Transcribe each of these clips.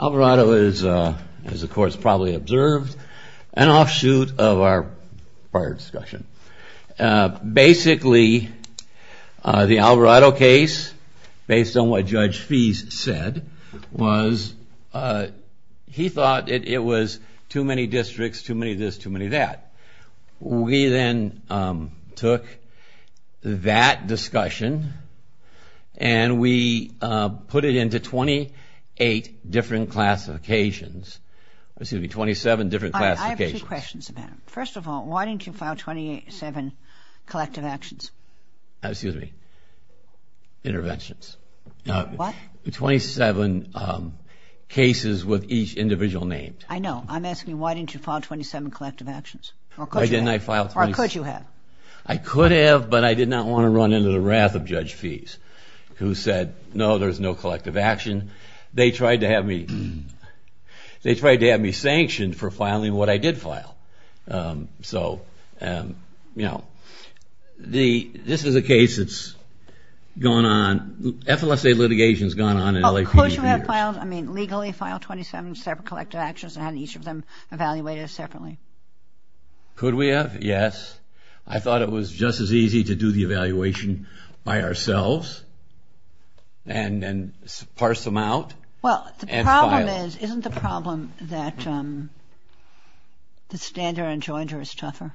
Alvarado is, as the court's probably observed, an offshoot of our prior discussion. Basically, the Alvarado case, based on what Judge Fease said, was he thought it was too many districts, too many this, too many that. We then took that discussion and we put it into 28 different classifications. Excuse me, 27 different classifications. I have two questions about it. First of all, why didn't you file 27 collective actions? Excuse me, interventions. What? 27 cases with each individual named. I know. I'm asking why didn't you file 27 collective actions? Why didn't I file 27? Or could you have? I could have, but I did not want to run into the wrath of Judge Fease, who said, no, there's no collective action. They tried to have me sanctioned for filing what I did file. So, you know, this is a case that's gone on, FLSA litigation's gone on in LAPD for years. I mean, legally file 27 separate collective actions and have each of them evaluated separately. Could we have? Yes. I thought it was just as easy to do the evaluation by ourselves and then parse them out and file. Well, the problem is, isn't the problem that the standard and jointer is tougher?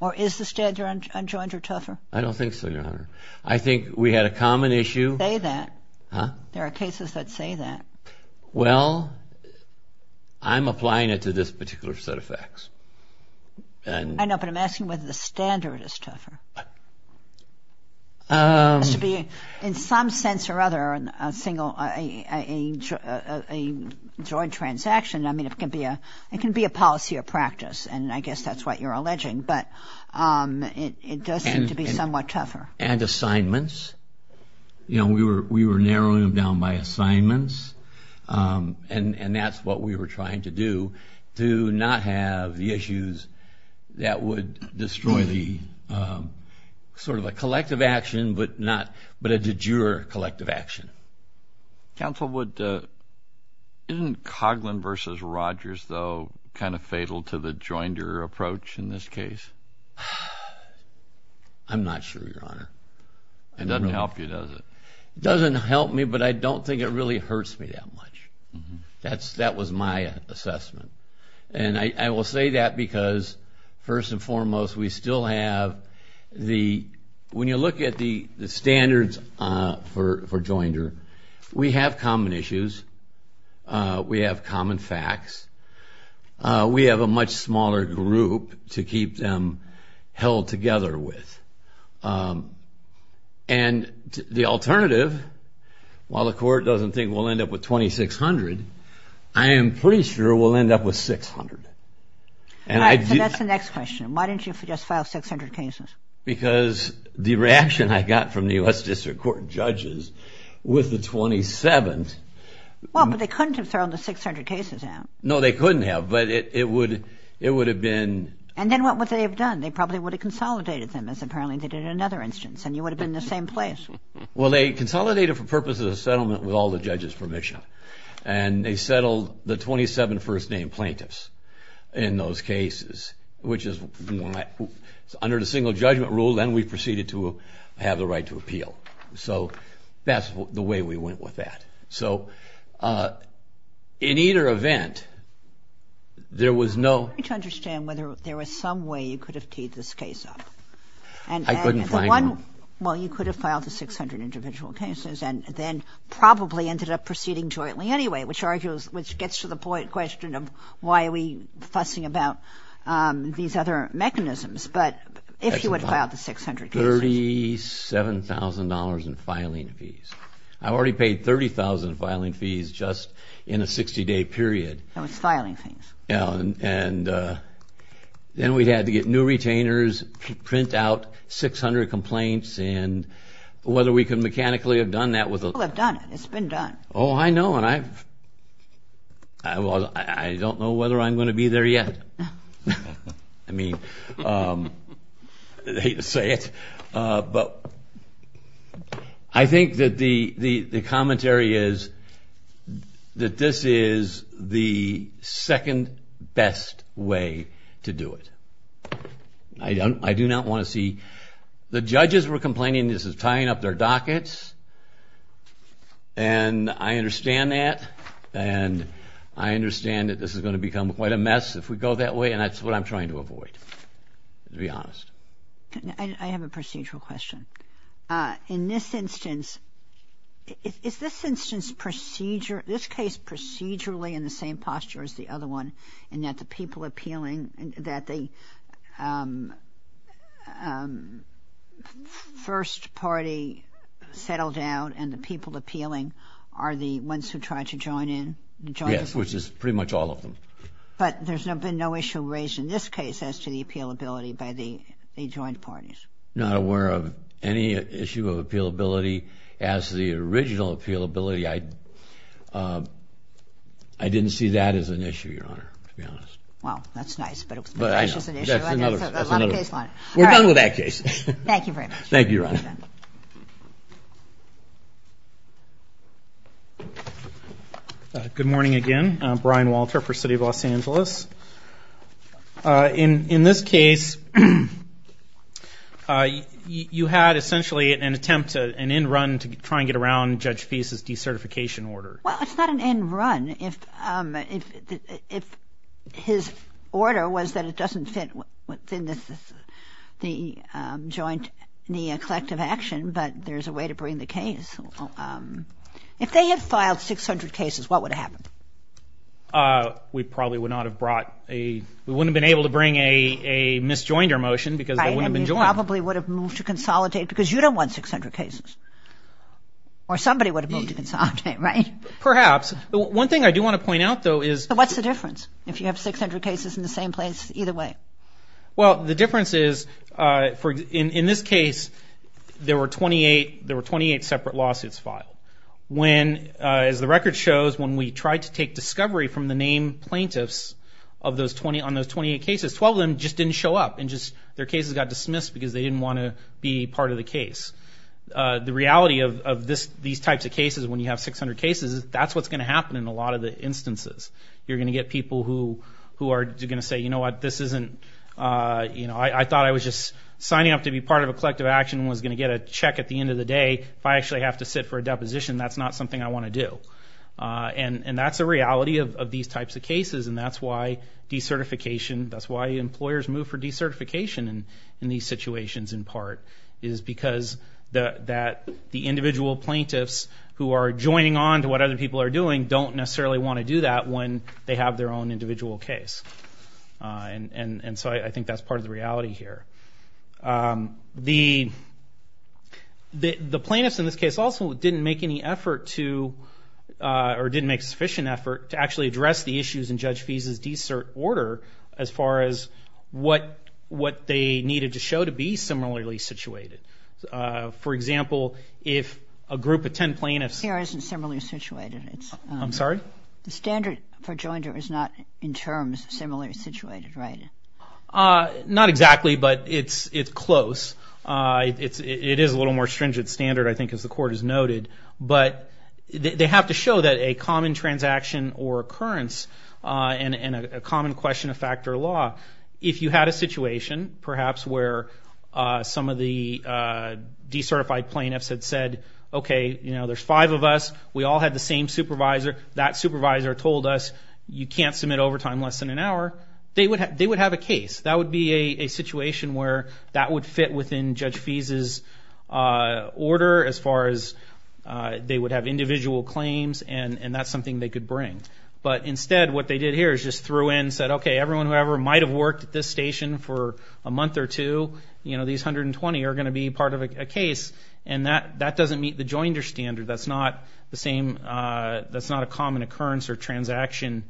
Or is the standard and jointer tougher? I don't think so, Your Honor. I think we had a common issue. Say that. Huh? There are cases that say that. Well, I'm applying it to this particular set of facts. I know, but I'm asking whether the standard is tougher. It has to be, in some sense or other, a single, a joint transaction. I mean, it can be a policy or practice, and I guess that's what you're alleging. But it does seem to be somewhat tougher. And assignments. You know, we were narrowing them down by assignments, and that's what we were trying to do, to not have the issues that would destroy the sort of a collective action, but a de jure collective action. Counsel, isn't Coghlan v. Rogers, though, kind of fatal to the jointer approach in this case? I'm not sure, Your Honor. It doesn't help you, does it? It doesn't help me, but I don't think it really hurts me that much. That was my assessment. And I will say that because, first and foremost, we still have the – when you look at the standards for jointer, we have common issues. We have common facts. We have a much smaller group to keep them held together with. And the alternative, while the court doesn't think we'll end up with 2,600, I am pretty sure we'll end up with 600. All right, so that's the next question. Why didn't you just file 600 cases? Because the reaction I got from the U.S. District Court judges with the 27th – Well, but they couldn't have thrown the 600 cases out. No, they couldn't have, but it would have been – And then what would they have done? They probably would have consolidated them, as apparently they did in another instance, and you would have been in the same place. Well, they consolidated for purposes of settlement with all the judges' permission, and they settled the 27 first-name plaintiffs in those cases, which is – under the single judgment rule, then we proceeded to have the right to appeal. So that's the way we went with that. So in either event, there was no – I'm trying to understand whether there was some way you could have teed this case up. I couldn't find one. Well, you could have filed the 600 individual cases and then probably ended up proceeding jointly anyway, which gets to the question of why are we fussing about these other mechanisms. But if you would have filed the 600 cases. $37,000 in filing fees. I already paid $30,000 in filing fees just in a 60-day period. No, it's filing fees. Yeah, and then we'd have to get new retainers, print out 600 complaints, and whether we could mechanically have done that with a – Well, they've done it. It's been done. Oh, I know, and I've – well, I don't know whether I'm going to be there yet. I mean, I hate to say it, but I think that the commentary is that this is the second best way to do it. I do not want to see – the judges were complaining this is tying up their dockets, and I understand that, and I understand that this is going to become quite a mess if we go that way, and that's what I'm trying to avoid, to be honest. I have a procedural question. In this instance, is this instance procedure – this case procedurally in the same posture as the other one in that the people appealing – that the first party settled down and the people appealing are the ones who tried to join in? Yes, which is pretty much all of them. But there's been no issue raised in this case as to the appealability by the joint parties. I'm not aware of any issue of appealability. As to the original appealability, I didn't see that as an issue, Your Honor, to be honest. Well, that's nice, but that's just an issue. That's another – I know, that's another. We're done with that case. Thank you very much. Thank you, Your Honor. Good morning again. I'm Brian Walter for City of Los Angeles. In this case, you had essentially an attempt to – an end run to try and get around Judge Peace's decertification order. Well, it's not an end run. If his order was that it doesn't fit within the joint – the collective action, but there's a way to bring the case. We probably would not have brought a – we wouldn't have been able to bring a mis-joinder motion because they wouldn't have been joined. Right, and you probably would have moved to consolidate because you don't want 600 cases. Or somebody would have moved to consolidate, right? Perhaps. One thing I do want to point out, though, is – So what's the difference? If you have 600 cases in the same place, either way? Well, the difference is, in this case, there were 28 separate lawsuits filed. As the record shows, when we tried to take discovery from the name plaintiffs on those 28 cases, 12 of them just didn't show up. Their cases got dismissed because they didn't want to be part of the case. The reality of these types of cases, when you have 600 cases, is that's what's going to happen in a lot of the instances. You're going to get people who are going to say, you know what, this isn't – I thought I was just signing up to be part of a collective action and was going to get a check at the end of the day. If I actually have to sit for a deposition, that's not something I want to do. And that's the reality of these types of cases, and that's why decertification – that's why employers move for decertification in these situations, in part, is because the individual plaintiffs who are joining on to what other people are doing don't necessarily want to do that when they have their own individual case. And so I think that's part of the reality here. The plaintiffs in this case also didn't make any effort to – or didn't make sufficient effort to actually address the issues in Judge Fease's decert order as far as what they needed to show to be similarly situated. For example, if a group of 10 plaintiffs – Here isn't similarly situated. I'm sorry? The standard for joinder is not in terms similarly situated, right? Not exactly, but it's close. It is a little more stringent standard, I think, as the court has noted. But they have to show that a common transaction or occurrence and a common question of fact or law – if you had a situation, perhaps, where some of the decertified plaintiffs had said, okay, there's five of us, we all had the same supervisor, that supervisor told us you can't submit overtime less than an hour, they would have a case. That would be a situation where that would fit within Judge Fease's order as far as they would have individual claims, and that's something they could bring. But instead, what they did here is just threw in and said, okay, everyone who ever might have worked at this station for a month or two, these 120 are going to be part of a case, and that doesn't meet the joinder standard. That's not the same – that's not a common occurrence or transaction,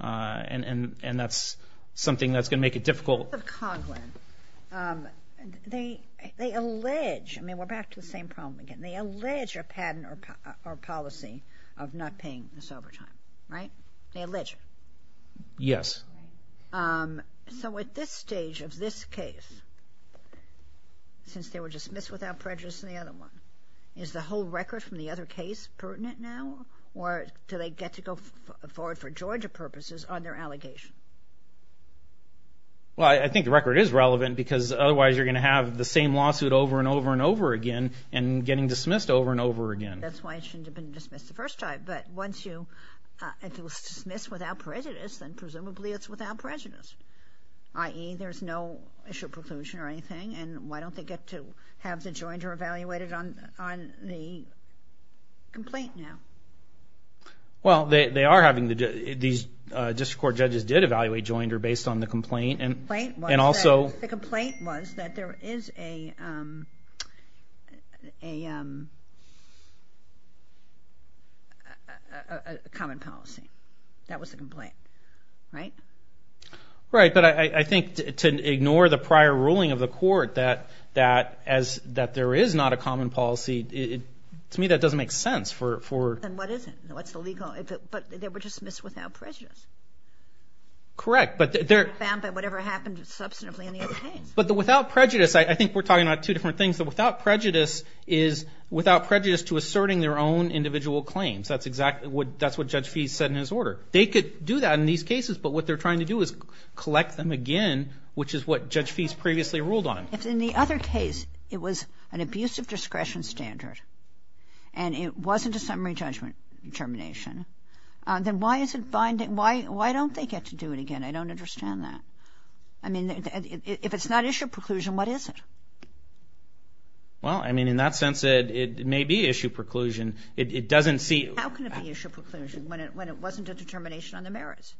and that's something that's going to make it difficult. In the case of Coghlan, they allege – I mean, we're back to the same problem again. They allege a patent or policy of not paying this overtime, right? They allege it. Yes. So at this stage of this case, since they were dismissed without prejudice in the other one, is the whole record from the other case pertinent now, or do they get to go forward for joinder purposes on their allegation? Well, I think the record is relevant because otherwise you're going to have the same lawsuit over and over and over again and getting dismissed over and over again. That's why it shouldn't have been dismissed the first time. But once you – if it was dismissed without prejudice, then presumably it's without prejudice, i.e. there's no issue of preclusion or anything, and why don't they get to have the joinder evaluated on the complaint now? Well, they are having the – these district court judges did evaluate joinder based on the complaint, and also – The complaint was that there is a common policy. That was the complaint, right? Right. But I think to ignore the prior ruling of the court that there is not a common policy, to me that doesn't make sense for – Then what is it? What's the legal – but they were dismissed without prejudice. Correct, but they're – Found by whatever happened substantively in the other case. But the without prejudice, I think we're talking about two different things. The without prejudice is without prejudice to asserting their own individual claims. That's exactly what – that's what Judge Fease said in his order. They could do that in these cases, but what they're trying to do is collect them again, which is what Judge Fease previously ruled on. If in the other case it was an abuse of discretion standard and it wasn't a summary judgment determination, then why is it binding – why don't they get to do it again? I don't understand that. I mean, if it's not issue of preclusion, what is it? Well, I mean, in that sense it may be issue of preclusion. It doesn't see – How can it be issue of preclusion when it wasn't a determination on the merits?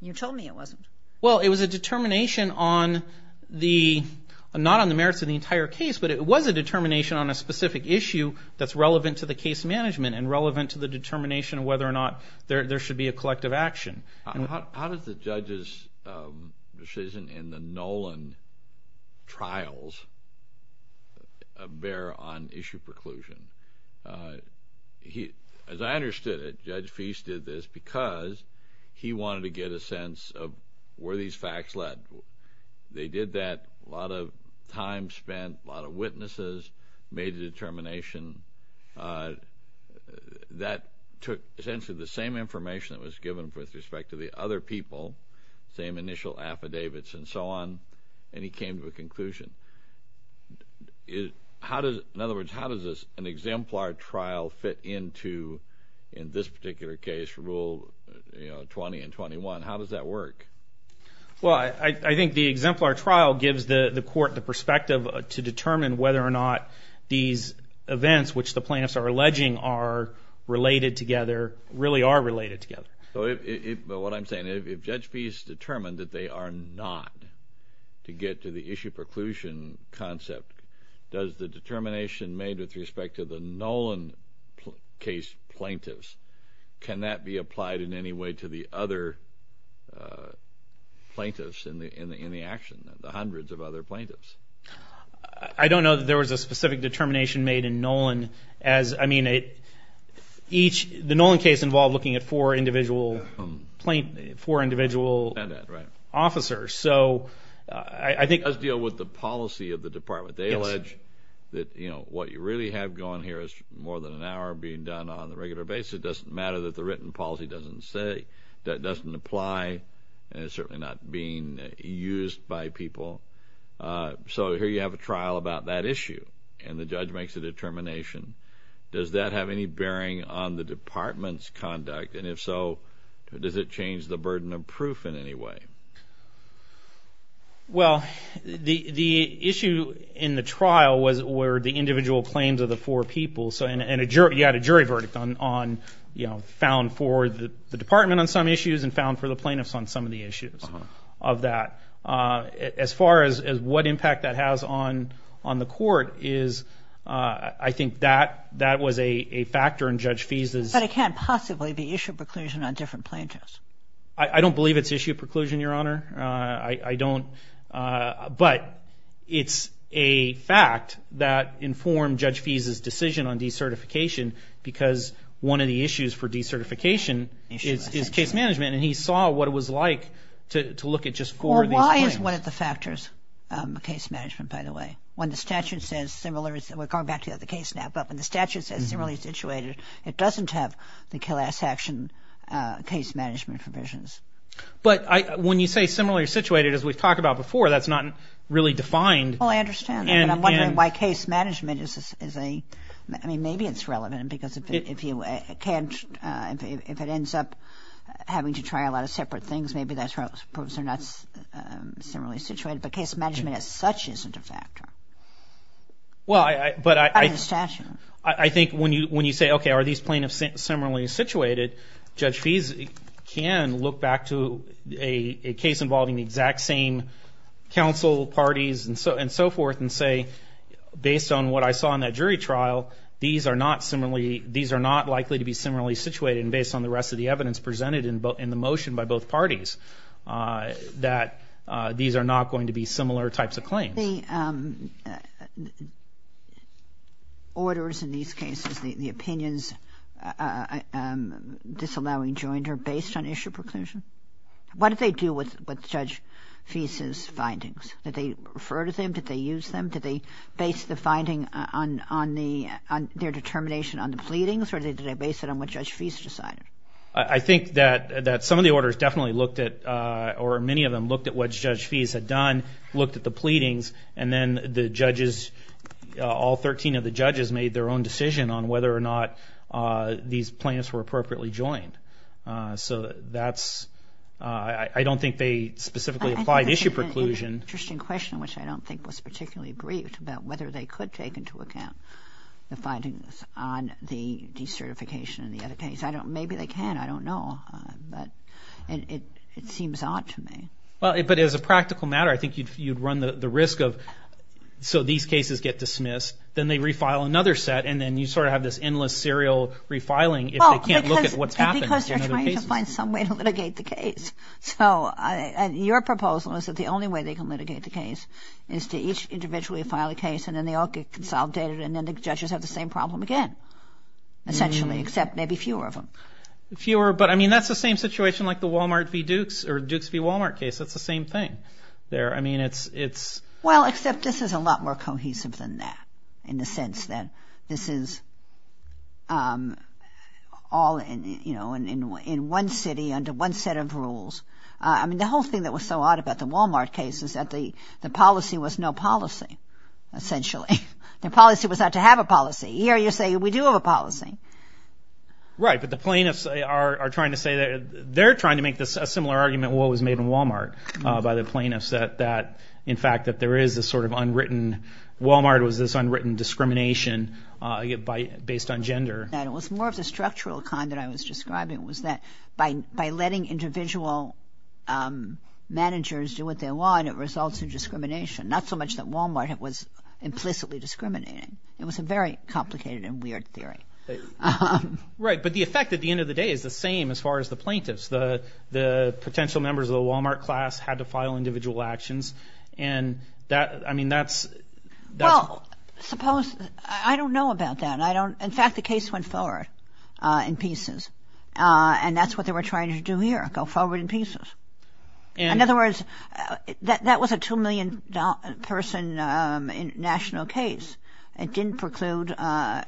You told me it wasn't. Well, it was a determination on the – not on the merits of the entire case, but it was a determination on a specific issue that's relevant to the case management and relevant to the determination of whether or not there should be a collective action. How does the judge's decision in the Nolan trials bear on issue of preclusion? As I understood it, Judge Fease did this because he wanted to get a sense of where these facts led. They did that, a lot of time spent, a lot of witnesses, made a determination. That took essentially the same information that was given with respect to the other people, same initial affidavits and so on, and he came to a conclusion. In other words, how does an exemplar trial fit into, in this particular case, Rule 20 and 21? How does that work? Well, I think the exemplar trial gives the court the perspective to determine whether or not these events which the plaintiffs are alleging are related together, really are related together. But what I'm saying, if Judge Fease determined that they are not to get to the issue of preclusion concept, does the determination made with respect to the Nolan case plaintiffs, can that be applied in any way to the other plaintiffs in the action, the hundreds of other plaintiffs? I don't know that there was a specific determination made in Nolan. I mean, the Nolan case involved looking at four individual officers. So I think... Let's deal with the policy of the department. They allege that what you really have going here is more than an hour being done on a regular basis. It doesn't matter that the written policy doesn't apply, and it's certainly not being used by people. So here you have a trial about that issue, and the judge makes a determination. Does that have any bearing on the department's conduct? And if so, does it change the burden of proof in any way? Well, the issue in the trial was where the individual claims of the four people, and you had a jury verdict found for the department on some issues and found for the plaintiffs on some of the issues of that. As far as what impact that has on the court is, I think that was a factor in Judge Feese's... But it can't possibly be issue preclusion on different plaintiffs. I don't believe it's issue preclusion, Your Honor. I don't. But it's a fact that informed Judge Feese's decision on decertification because one of the issues for decertification is case management, and he saw what it was like to look at just four of these claims. Well, why is one of the factors case management, by the way? When the statute says similar... We're going back to the other case now, but when the statute says similarly situated, it doesn't have the kill-ass action case management provisions. But when you say similarly situated, as we've talked about before, that's not really defined. Well, I understand that, but I'm wondering why case management is a... You try a lot of separate things, maybe that proves they're not similarly situated, but case management as such isn't a factor. I think when you say, okay, are these plaintiffs similarly situated, Judge Feese can look back to a case involving the exact same counsel, parties, and so forth and say, based on what I saw in that jury trial, these are not likely to be similarly situated and based on the rest of the evidence presented in the motion by both parties, that these are not going to be similar types of claims. Are the orders in these cases, the opinions disallowing jointer, based on issue preclusion? What did they do with Judge Feese's findings? Did they refer to them? Did they use them? Did they base the finding on their determination on the pleadings, or did they base it on what Judge Feese decided? I think that some of the orders definitely looked at, or many of them looked at what Judge Feese had done, looked at the pleadings, and then the judges, all 13 of the judges, made their own decision on whether or not these plaintiffs were appropriately joined. So that's, I don't think they specifically applied issue preclusion. I think that's an interesting question, which I don't think was particularly briefed, about whether they could take into account the findings on the decertification in the other case. Maybe they can. I don't know. But it seems odd to me. But as a practical matter, I think you'd run the risk of, so these cases get dismissed, then they refile another set, and then you sort of have this endless serial refiling if they can't look at what's happened in other cases. Because they're trying to find some way to litigate the case. So your proposal is that the only way they can litigate the case is to each individually file a case, and then they all get consolidated, and then the judges have the same problem again, essentially, except maybe fewer of them. Fewer, but I mean, that's the same situation like the Walmart v. Dukes, or Dukes v. Walmart case. That's the same thing there. I mean, it's... Well, except this is a lot more cohesive than that, in the sense that this is all in one city under one set of rules. I mean, the whole thing that was so odd about the Walmart case is that the policy was no policy, essentially. The policy was not to have a policy. Here you say we do have a policy. Right, but the plaintiffs are trying to say that they're trying to make a similar argument to what was made in Walmart by the plaintiffs, that in fact that there is this sort of unwritten... Walmart was this unwritten discrimination based on gender. It was more of the structural kind that I was describing, was that by letting individual managers do what they want, it results in discrimination. Not so much that Walmart was implicitly discriminating. It was a very complicated and weird theory. Right, but the effect at the end of the day is the same as far as the plaintiffs. The potential members of the Walmart class had to file individual actions, and that, I mean, that's... Well, suppose... I don't know about that. In fact, the case went forward in pieces, and that's what they were trying to do here, go forward in pieces. In other words, that was a $2 million person national case. It didn't preclude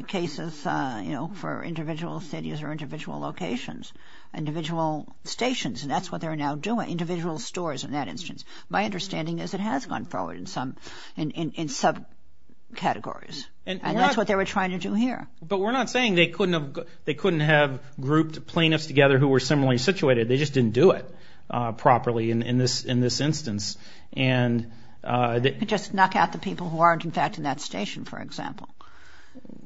cases for individual cities or individual locations, individual stations, and that's what they're now doing, individual stores in that instance. My understanding is it has gone forward in subcategories, and that's what they were trying to do here. But we're not saying they couldn't have grouped plaintiffs together who were similarly situated. They just didn't do it properly in this instance. They could just knock out the people who aren't, in fact, in that station, for example.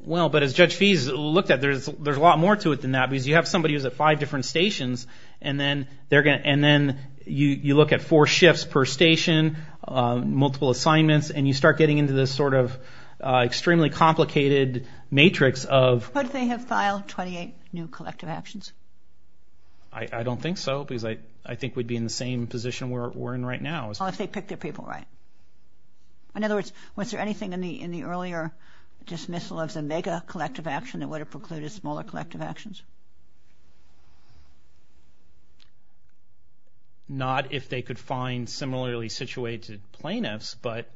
Well, but as Judge Fease looked at it, there's a lot more to it than that, because you have somebody who's at five different stations, and then you look at four shifts per station, multiple assignments, and you start getting into this sort of extremely complicated matrix of... But they have filed 28 new collective actions. I don't think so, because I think we'd be in the same position we're in right now. Well, if they picked their people right. In other words, was there anything in the earlier dismissal of the mega collective action that would have precluded smaller collective actions? Not if they could find similarly situated plaintiffs, but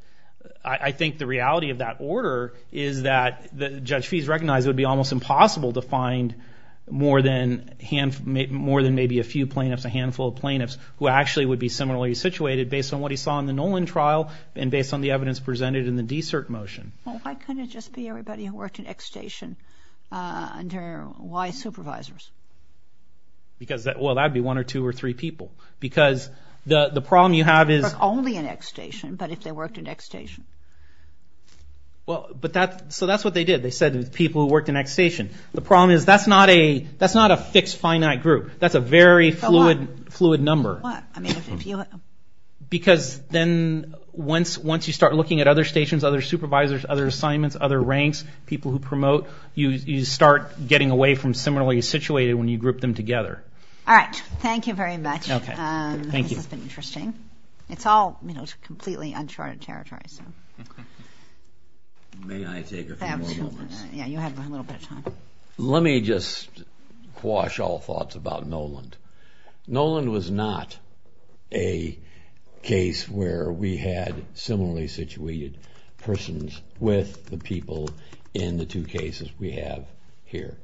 I think the reality of that order is that Judge Fease recognized it would be almost impossible to find more than maybe a few plaintiffs, a handful of plaintiffs, who actually would be similarly situated based on what he saw in the Nolan trial and based on the evidence presented in the DSERT motion. Well, why couldn't it just be everybody who worked in X station under Y supervisors? Well, that would be one or two or three people. Because the problem you have is... Only in X station, but if they worked in X station. Well, so that's what they did. They said people who worked in X station. The problem is that's not a fixed finite group. That's a very fluid number. Because then once you start looking at other stations, other supervisors, other assignments, other ranks, people who promote, you start getting away from similarly situated when you group them together. All right, thank you very much. This has been interesting. It's all completely uncharted territory. May I take a few more moments? Yeah, you have a little bit of time. Let me just quash all thoughts about Nolan. Nolan was not a case where we had similarly situated persons with the people in the two cases we have here,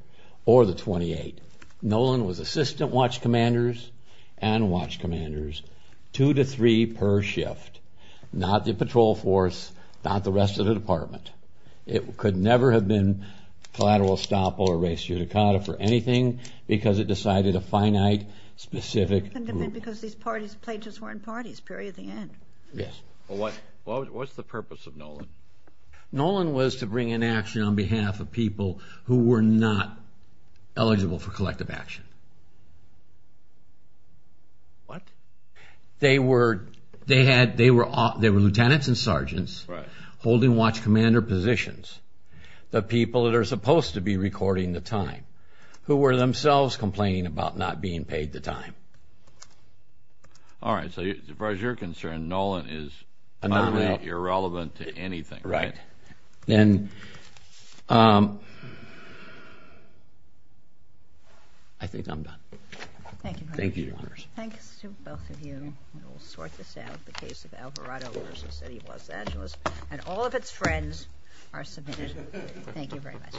or the 28. Nolan was assistant watch commanders and watch commanders, two to three per shift. Not the patrol force, not the rest of the department. It could never have been collateral estoppel or res judicata for anything because it decided a finite, specific group. Because these pages weren't parties, period, the end. Yes. What's the purpose of Nolan? Nolan was to bring in action on behalf of people who were not eligible for collective action. What? They were lieutenants and sergeants holding watch commander positions, the people that are supposed to be recording the time, who were themselves complaining about not being paid the time. All right, so as far as you're concerned, Nolan is utterly irrelevant to anything. Right. Then I think I'm done. Thank you. Thank you, Your Honors. Thanks to both of you. We will sort this out, the case of Alvarado v. City of Los Angeles. And all of its friends are submitted. Thank you very much.